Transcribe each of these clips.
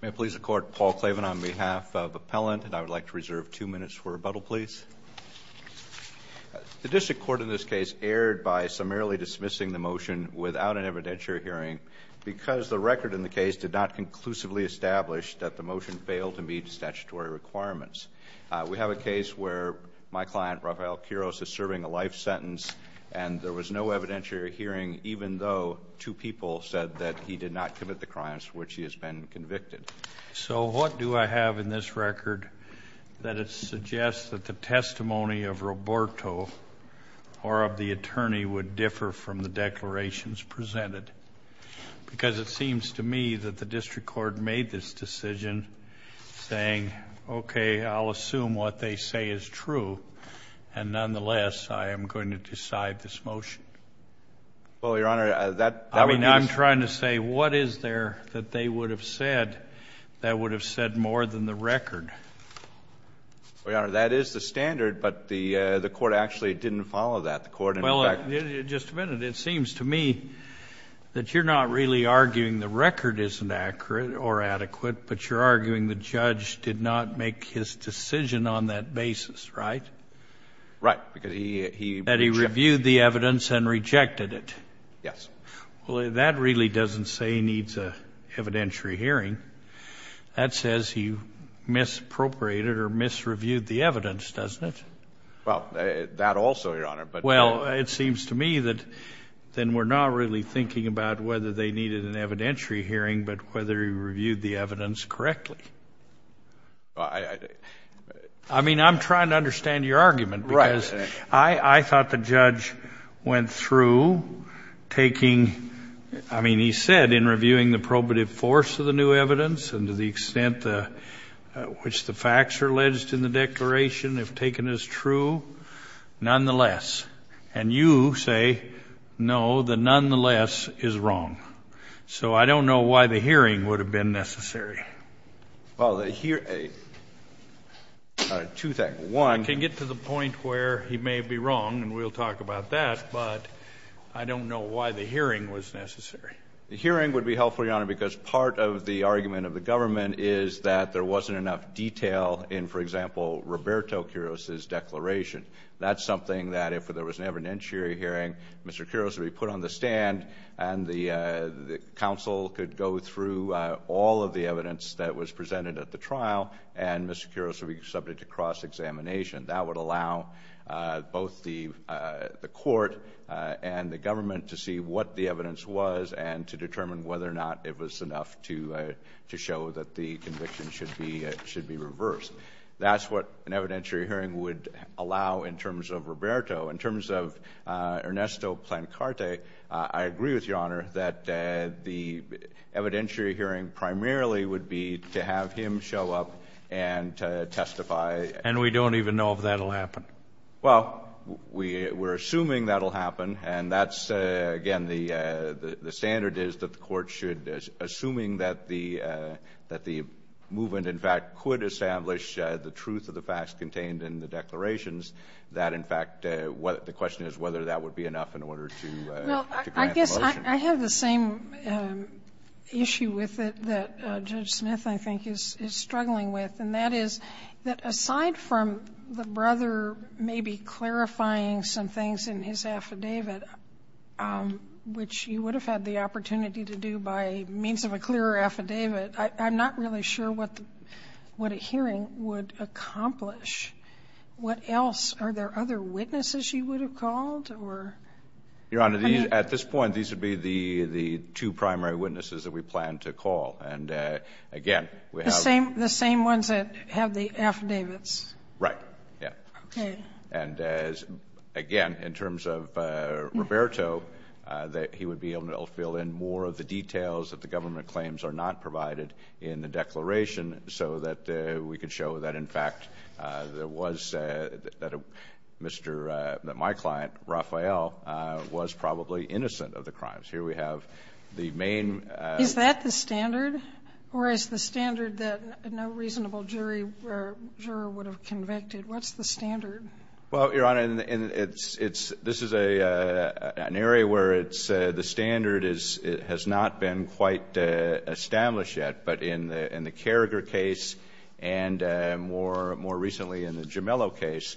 May it please the Court, Paul Klavan on behalf of Appellant and I would like to reserve two minutes for rebuttal please. The District Court in this case erred by summarily dismissing the motion without an evidentiary hearing because the record in the case did not conclusively establish that the motion failed to meet statutory requirements. We have a case where my client Rafael Quiroz is serving a life sentence and there was no evidentiary hearing even though two people said that he did not commit the crimes for which he has been convicted. So what do I have in this record that it suggests that the testimony of Roberto or of the attorney would differ from the declarations presented? Because it seems to me that the District Court made this decision saying okay I'll assume what they say is true and nonetheless I am going to decide this motion. Well your honor that I mean I'm trying to say what is there that they would have said that would have said more than the record? Well your honor that is the standard but the the court actually didn't follow that the court. Well just a minute it seems to me that you're not really arguing the record isn't accurate or adequate but you're arguing the judge did not make his decision on that basis right? Right because he. That he reviewed the evidence and rejected it. Yes. Well that really doesn't say he needs a evidentiary hearing that says he misappropriated or misreviewed the evidence doesn't it? Well that also your honor but. Well it seems to me that then we're not really thinking about whether they needed an evidentiary hearing but whether he reviewed the evidence correctly. I mean I'm trying to understand your argument because I thought the judge went through taking I mean he said in reviewing the probative force of the new evidence and to the extent the which the facts are alleged in the declaration if taken as true nonetheless and you say no the nonetheless is wrong so I don't know why the hearing would have been necessary. Well the here two things one. I can get to the point where he may be wrong and we'll talk about that but I don't know why the hearing was necessary. The hearing would be helpful your honor because part of the argument of the government is that there wasn't enough detail in for example Roberto Quiroz's declaration that's something that if there was an evidentiary hearing Mr. Quiroz would be put on the stand and the council could go through all of the trial and Mr. Quiroz would be subject to cross-examination. That would allow both the court and the government to see what the evidence was and to determine whether or not it was enough to show that the conviction should be should be reversed. That's what an evidentiary hearing would allow in terms of Roberto. In terms of Ernesto Plancarte I agree with your honor that the show up and testify. And we don't even know if that'll happen. Well we we're assuming that'll happen and that's again the the standard is that the court should assuming that the that the movement in fact could establish the truth of the facts contained in the declarations that in fact what the question is whether that would be enough in order to. Well I guess I have the same issue with it that Judge Smith I think is is struggling with and that is that aside from the brother maybe clarifying some things in his affidavit which you would have had the opportunity to do by means of a clearer affidavit I'm not really sure what what a hearing would accomplish. What else are there other witnesses you would have called or? Your honor these at this point these would be the the two primary witnesses that we plan to call and again the same the same ones that have the affidavits. Right yeah. And as again in terms of Roberto that he would be able to fill in more of the details that the government claims are not provided in the declaration so that we could show that in fact there was that Mr. that my client Rafael was probably innocent of the crimes. Here we have the main. Is that the standard or is the standard that no reasonable jury or juror would have convicted? What's the standard? Well your honor and it's it's this is a an area where it's the standard is it has not been quite established yet but in the in the Carriger case and more more recently in the Gemello case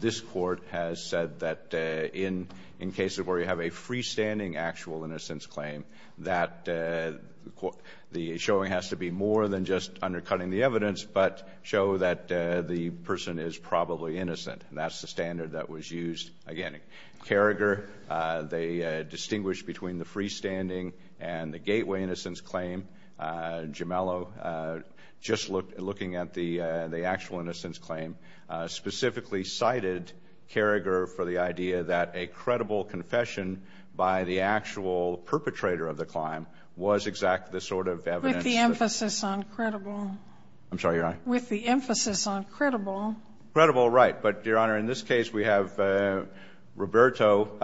this court has said that in in cases where you have a freestanding actual innocence claim that the showing has to be more than just undercutting the evidence but show that the person is probably innocent and that's the standard that was used again. Carriger they distinguish between the freestanding and the gateway innocence claim. Gemello just looked looking at the the actual innocence claim specifically cited Carriger for the idea that a credible confession by the actual perpetrator of the crime was exactly the sort of evidence. With the emphasis on credible. I'm sorry your honor. With the emphasis on credible. Credible right but your honor in this case we have Roberto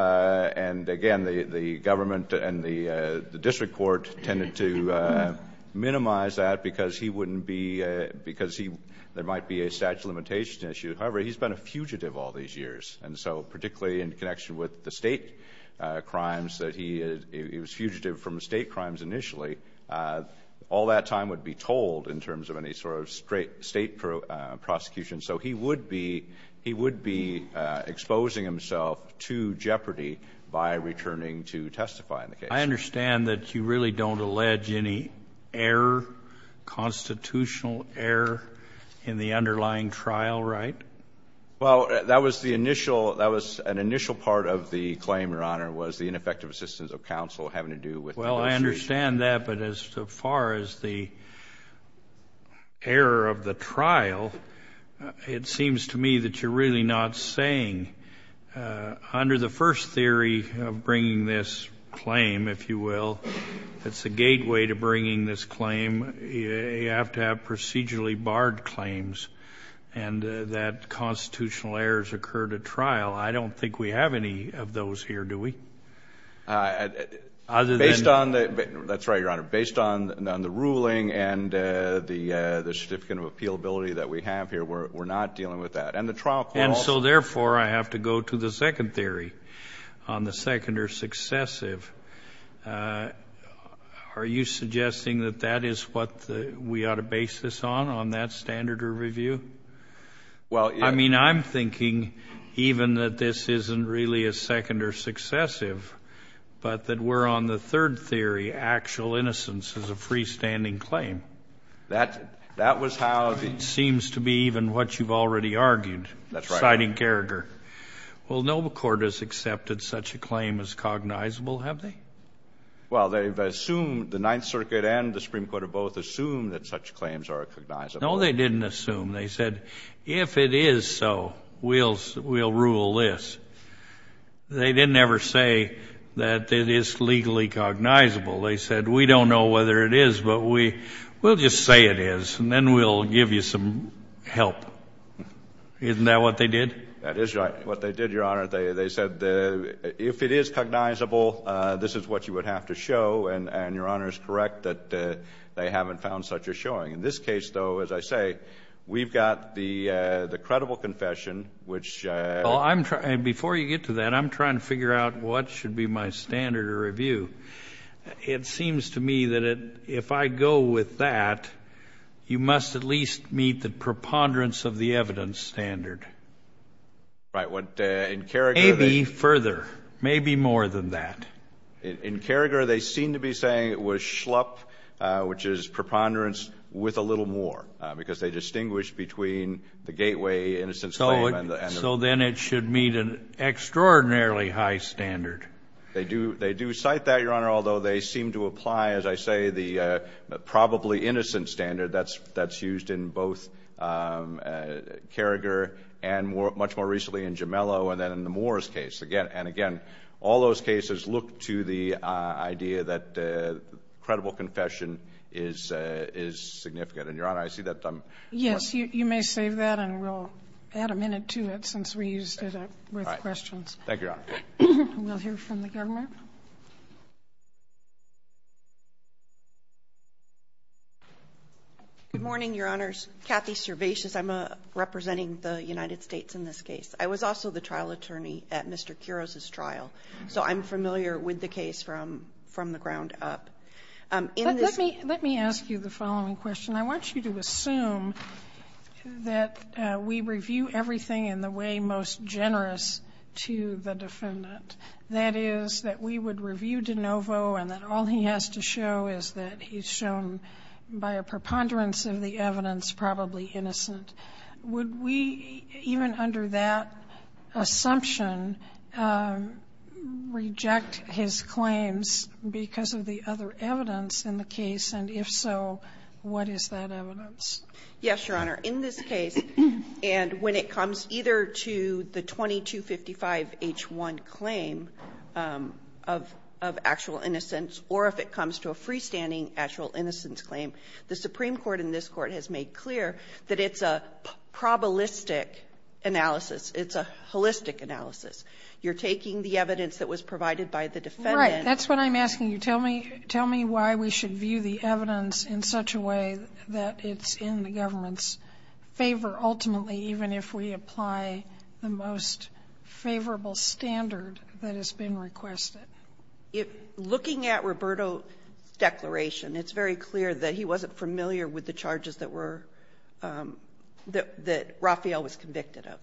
and again the the government and the the district court tended to minimize that because he wouldn't be because he there might be a statute of limitations issue however he's been a fugitive all these years and so particularly in connection with the state crimes that he is he was fugitive from state crimes initially all that time would be told in terms of any sort of straight state prosecution so he would be he would be exposing himself to jeopardy by returning to constitutional error in the underlying trial right well that was the initial that was an initial part of the claim your honor was the ineffective assistance of counsel having to do with well i understand that but as far as the error of the trial it seems to me that you're really not saying under the first theory of bringing this claim if you will that's the you have to have procedurally barred claims and that constitutional errors occurred at trial i don't think we have any of those here do we uh other than based on the that's right your honor based on on the ruling and uh the uh the certificate of appealability that we have here we're not dealing with that and the trial and so therefore i have to go to the second theory on the second or successive uh are you suggesting that that is what the we ought to base this on on that standard or review well i mean i'm thinking even that this isn't really a second or successive but that we're on the third theory actual innocence is a freestanding claim that that was how it seems to be even what you've already argued that's right in character well no court has accepted such a claim as cognizable have they well they've assumed the ninth circuit and the supreme court have both assumed that such claims are recognized no they didn't assume they said if it is so we'll we'll rule this they didn't ever say that it is legally cognizable they said we don't know whether it is but we we'll just say it is and then we'll give you some help isn't that what they did that is right what they did your honor they they said the if it is cognizable uh this is what you would have to show and and your honor is correct that they haven't found such a showing in this case though as i say we've got the uh the credible confession which uh well i'm trying before you get to that i'm to me that it if i go with that you must at least meet the preponderance of the evidence standard right what in character maybe further maybe more than that in carriger they seem to be saying it was schlup which is preponderance with a little more because they distinguish between the gateway innocence so then it should meet an extraordinarily high standard they do they do cite that your seem to apply as i say the uh probably innocent standard that's that's used in both um uh carriger and more much more recently in gemello and then in the moors case again and again all those cases look to the uh idea that uh credible confession is uh is significant and your honor i see that yes you you may save that and we'll add a minute to it since we used it up with questions thank you your honor we'll hear from the government good morning your honors kathy cervaceous i'm a representing the united states in this case i was also the trial attorney at mr kiros's trial so i'm familiar with the case from from the ground up um let me let me ask you the following question i want you to assume that uh we review everything in the way most generous to the defendant that is that we would review de novo and that all he has to show is that he's shown by a preponderance of the evidence probably innocent would we even under that assumption um reject his claims because of evidence in the case and if so what is that evidence yes your honor in this case and when it comes either to the 2255 h1 claim um of of actual innocence or if it comes to a freestanding actual innocence claim the supreme court in this court has made clear that it's a probabilistic analysis it's a holistic analysis you're taking the evidence that was provided by the defendant that's what i'm asking you tell me tell me why we should view the evidence in such a way that it's in the government's favor ultimately even if we apply the most favorable standard that has been requested if looking at roberto's declaration it's very clear that he wasn't familiar with the charges that were um that that rafael was convicted of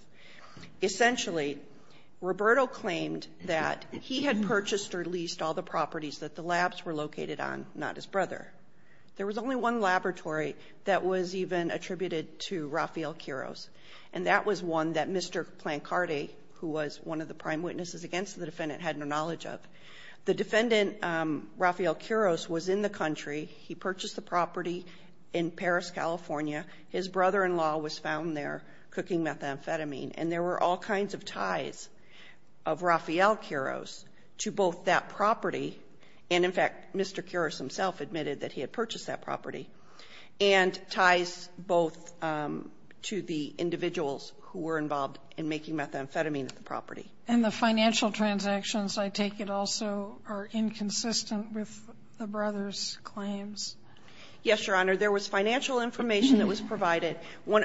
essentially roberto claimed that he had purchased or leased all the properties that the labs were located on not his brother there was only one laboratory that was even attributed to rafael quiros and that was one that mr plancardi who was one of the prime witnesses against the defendant had no knowledge of the defendant um rafael quiros was in the country he purchased the property in paris california his brother-in-law was found there cooking methamphetamine and there were all kinds of ties of rafael quiros to both that property and in fact mr quiros himself admitted that he had purchased that property and ties both um to the individuals who were involved in making methamphetamine at the property and the financial transactions i take it also are inconsistent with the brothers claims yes your honor there was financial information that was provided when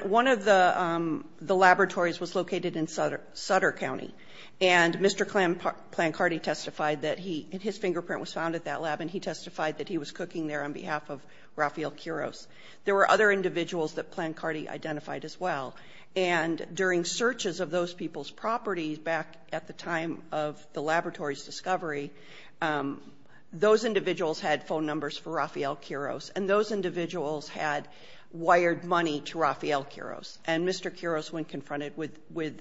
sutter county and mr clan plan cardi testified that he and his fingerprint was found at that lab and he testified that he was cooking there on behalf of rafael quiros there were other individuals that plan cardi identified as well and during searches of those people's properties back at the time of the laboratory's discovery um those individuals had phone numbers for rafael quiros and those individuals had wired money to rafael quiros and mr quiros when confronted with with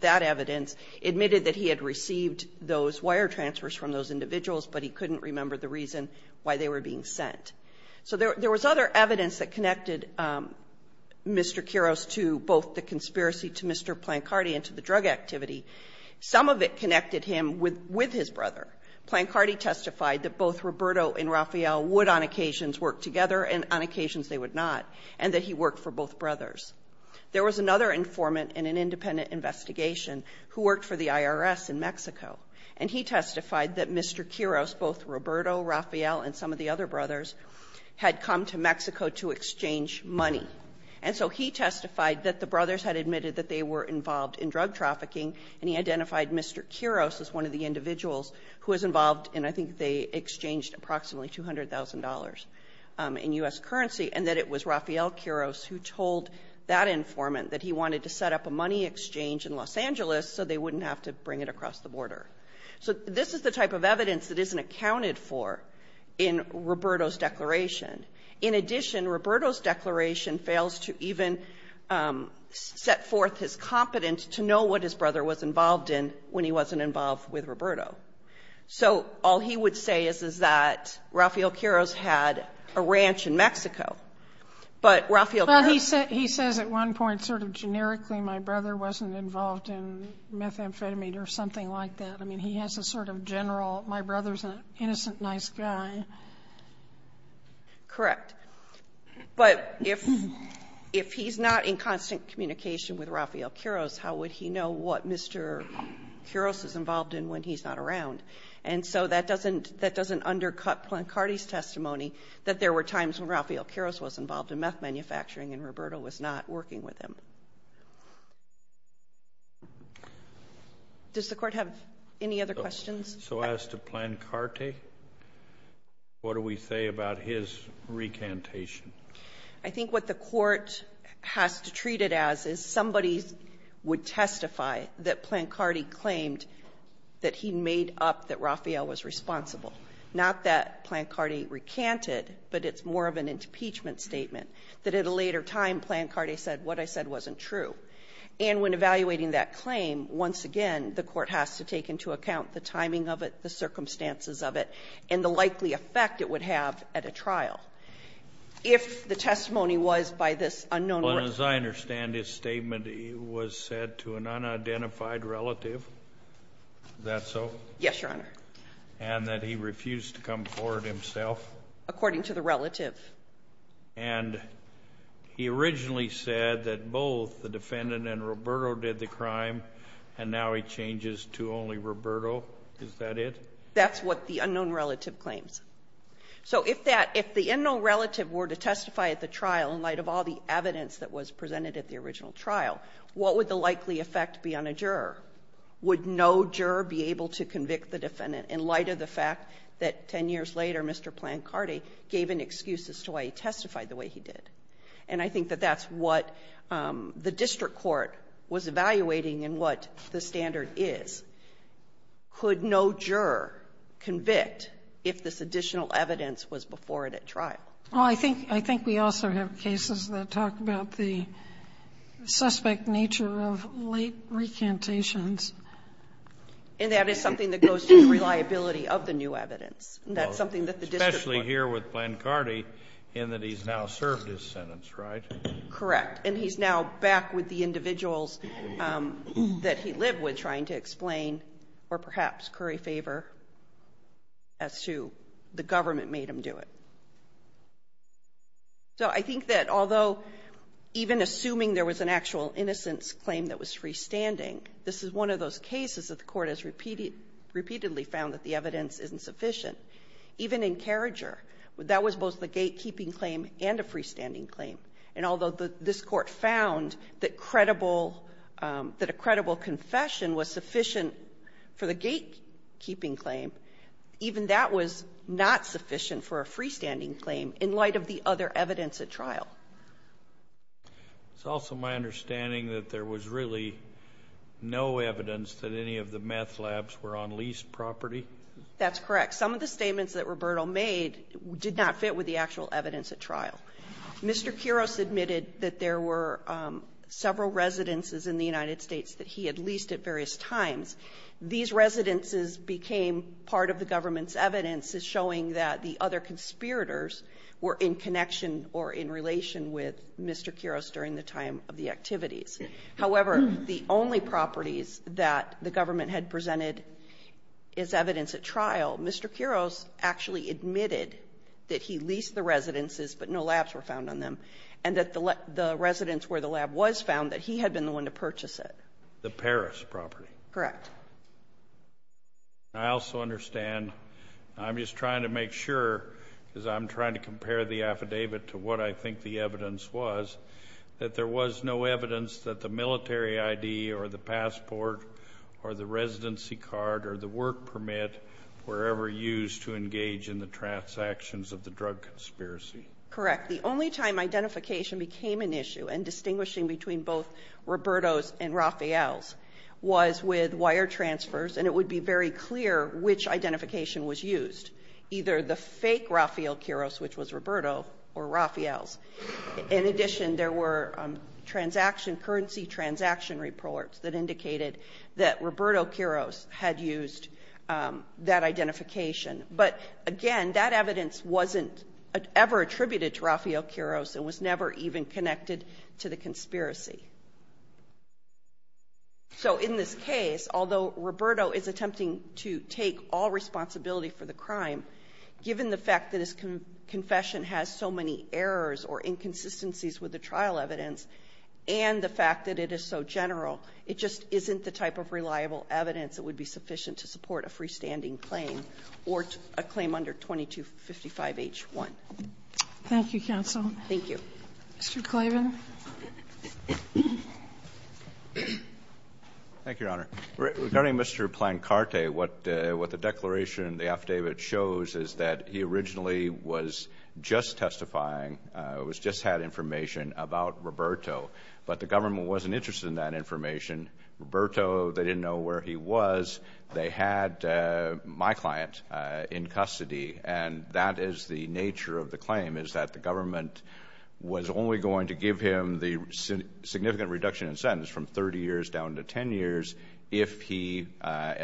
that evidence admitted that he had received those wire transfers from those individuals but he couldn't remember the reason why they were being sent so there was other evidence that connected um mr quiros to both the conspiracy to mr plan cardi and to the drug activity some of it connected him with with his brother plan cardi testified that both roberto and rafael would on occasions work together and on occasions they would not and that he worked for both there was another informant in an independent investigation who worked for the irs in mexico and he testified that mr quiros both roberto rafael and some of the other brothers had come to mexico to exchange money and so he testified that the brothers had admitted that they were involved in drug trafficking and he identified mr quiros as one of the individuals who was involved and i think they exchanged approximately two hundred thousand dollars in u.s currency and that it was rafael quiros who told that informant that he wanted to set up a money exchange in los angeles so they wouldn't have to bring it across the border so this is the type of evidence that isn't accounted for in roberto's declaration in addition roberto's declaration fails to even set forth his competence to know what his brother was involved in when he wasn't involved with roberto so all he would say is that rafael quiros had a ranch in mexico but rafael he said he says at one point sort of generically my brother wasn't involved in methamphetamine or something like that i mean he has a sort of general my brother's an innocent nice guy correct but if if he's not in constant communication with rafael quiros how would he know what mr quiros is involved in when he's not around and so that doesn't that doesn't undercut plan cardi's testimony that there were times when rafael quiros was involved in meth manufacturing and roberto was not working with him does the court have any other questions so as to plan carte what do we say about his recantation i think what the court has to treat it as is somebody would testify that plan cardi claimed that he made up that rafael was responsible not that plan cardi recanted but it's more of an impeachment statement that at a later time plan cardi said what i said wasn't true and when evaluating that claim once again the court has to take into account the timing of it circumstances of it and the likely effect it would have at a trial if the testimony was by this unknown as i understand his statement it was said to an unidentified relative is that so yes your honor and that he refused to come forward himself according to the relative and he originally said that both the defendant and roberto did the crime and now he changes to only roberto is that it that's what the unknown relative claims so if that if the unknown relative were to testify at the trial in light of all the evidence that was presented at the original trial what would the likely effect be on a juror would no juror be able to convict the defendant in light of the fact that 10 years later mr plan cardi gave an excuse as to why he testified the way he did and i think that that's what um the district court was evaluating and what the standard is could no juror convict if this additional evidence was before it at trial well i think i think we also have cases that talk about the suspect nature of late recantations and that is something that goes to the reliability of the new evidence and that's something that the district especially here with plan cardi and that he's now served his um that he lived with trying to explain or perhaps curry favor as to the government made him do it so i think that although even assuming there was an actual innocence claim that was freestanding this is one of those cases that the court has repeated repeatedly found that the evidence isn't sufficient even in carriger that was both the gatekeeping claim and a freestanding claim and although the this court found that credible um that a credible confession was sufficient for the gate keeping claim even that was not sufficient for a freestanding claim in light of the other evidence at trial it's also my understanding that there was really no evidence that any of the meth labs were on leased property that's correct some of the admitted that there were um several residences in the united states that he had leased at various times these residences became part of the government's evidence is showing that the other conspirators were in connection or in relation with mr kiros during the time of the activities however the only properties that the government had presented is evidence at trial mr kiros actually admitted that he leased the residences but no labs were found on them and that the residents where the lab was found that he had been the one to purchase it the paris property correct i also understand i'm just trying to make sure because i'm trying to compare the affidavit to what i think the evidence was that there was no evidence that the military id or the passport or the residency card or the work permit were ever used to engage in the transactions of the drug conspiracy correct the only time identification became an issue and distinguishing between both roberto's and rafael's was with wire transfers and it would be very clear which identification was used either the fake rafael kiros which was roberto or rafael's in addition there were transaction currency transaction reports that indicated that roberto kiros had used that identification but again that evidence wasn't ever attributed to rafael kiros and was never even connected to the conspiracy so in this case although roberto is attempting to take all responsibility for the crime given the fact that his confession has so many errors or inconsistencies with the trial evidence and the fact that it is so general it just isn't the type of reliable evidence that would be sufficient to support a freestanding claim or a claim under 22 55 h1 thank you counsel thank you mr clavin thank you your honor regarding mr plan carte what uh what the declaration in the affidavit shows is that he originally was just testifying uh it was just had information about roberto but the government wasn't interested in that information roberto they didn't know where he was they had my client uh in custody and that is the nature of the claim is that the government was only going to give him the significant reduction in sentence from 30 years down to 10 years if he uh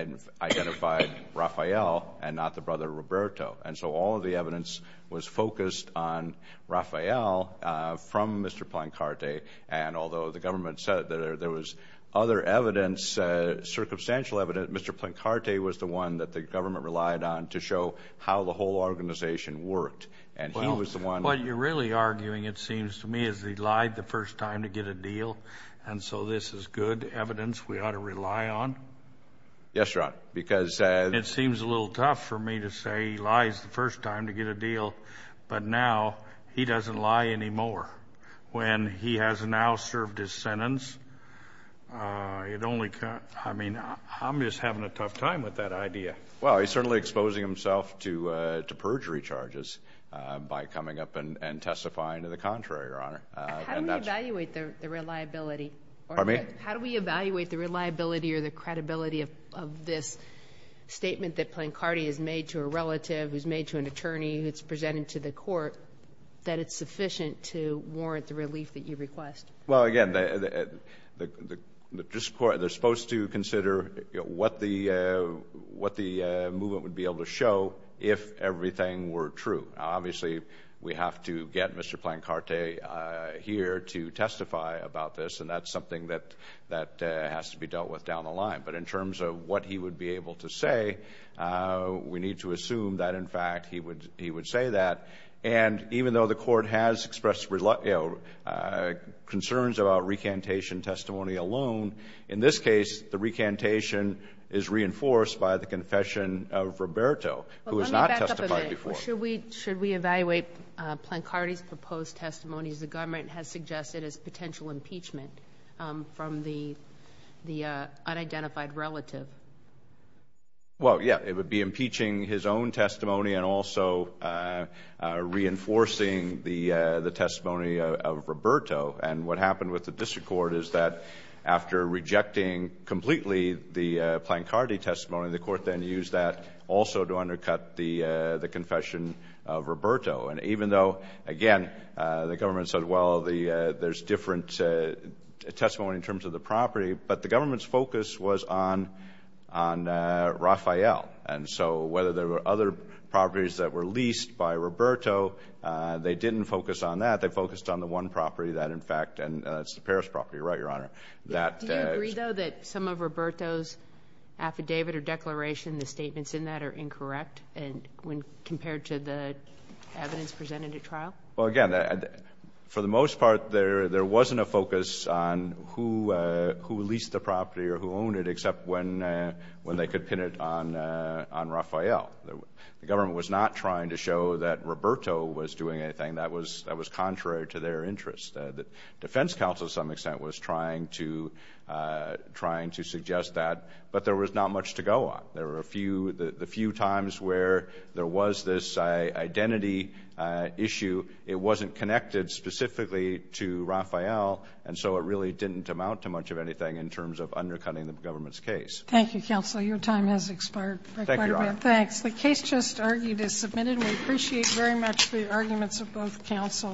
identified rafael and not the brother roberto and so all of the evidence was focused on rafael uh from mr plan carte and although the government said that there was other evidence uh circumstantial evidence mr plan carte was the one that the government relied on to show how the whole organization worked and he was the one what you're really arguing it seems to me is he lied the first time to get a deal and so this is good evidence we ought to rely on yes your honor because uh it seems a little tough for me to say he lies the first time to get a deal but now he doesn't lie anymore when he has now served his sentence uh it only can't i mean i'm just having a tough time with that idea well he's certainly exposing himself to uh to perjury charges uh by coming up and and testifying to the contrary your honor how do we evaluate the reliability or me how do we evaluate the reliability or the credibility of of this statement that playing cardi is made to a relative who's made to an attorney who's presented to the court that it's sufficient to warrant the relief that you request well again the the just court they're supposed to consider what the uh what the uh movement would be able to show if everything were true obviously we have to get mr plan carte uh here to testify about this and that's something that that has to be dealt with down the line but in terms of what he would be able to say uh we need to assume that in fact he would he would say that and even though the court has expressed reluctant uh concerns about recantation testimony alone in this case the recantation is reinforced by the confession of roberto who has not testified before should we should we evaluate uh plank cardi's proposed testimonies the government has suggested as potential impeachment um from the the uh unidentified relative well yeah it would be impeaching his own testimony and also uh uh reinforcing the uh the testimony of roberto and what happened with the district court is that after rejecting completely the plank cardi testimony the court then used that also to undercut the uh the confession of roberto and even though again uh the government said well the uh there's different uh testimony in terms of the property but the government's focus was on on uh rafael and so whether there were other properties that were leased by roberto uh they didn't focus on that they focused on the one property that in fact and that's the paris property right your honor that do you agree though that some of roberto's affidavit or declaration the statements in that are incorrect and when compared to the evidence presented at trial well again for the most part there there wasn't a focus on who uh who leased the property or who owned it except when uh when they could pin it on uh on rafael the government was not trying to show that roberto was doing anything that was that was contrary to their interest the defense council to some extent was trying to uh trying to suggest that but there was not much to go on there were a few the few times where there was this identity uh issue it wasn't connected specifically to rafael and so it really didn't amount to much of anything in terms of undercutting the government's case thank you counsel your time has expired thanks the case just argued is submitted we appreciate very much the arguments of both councils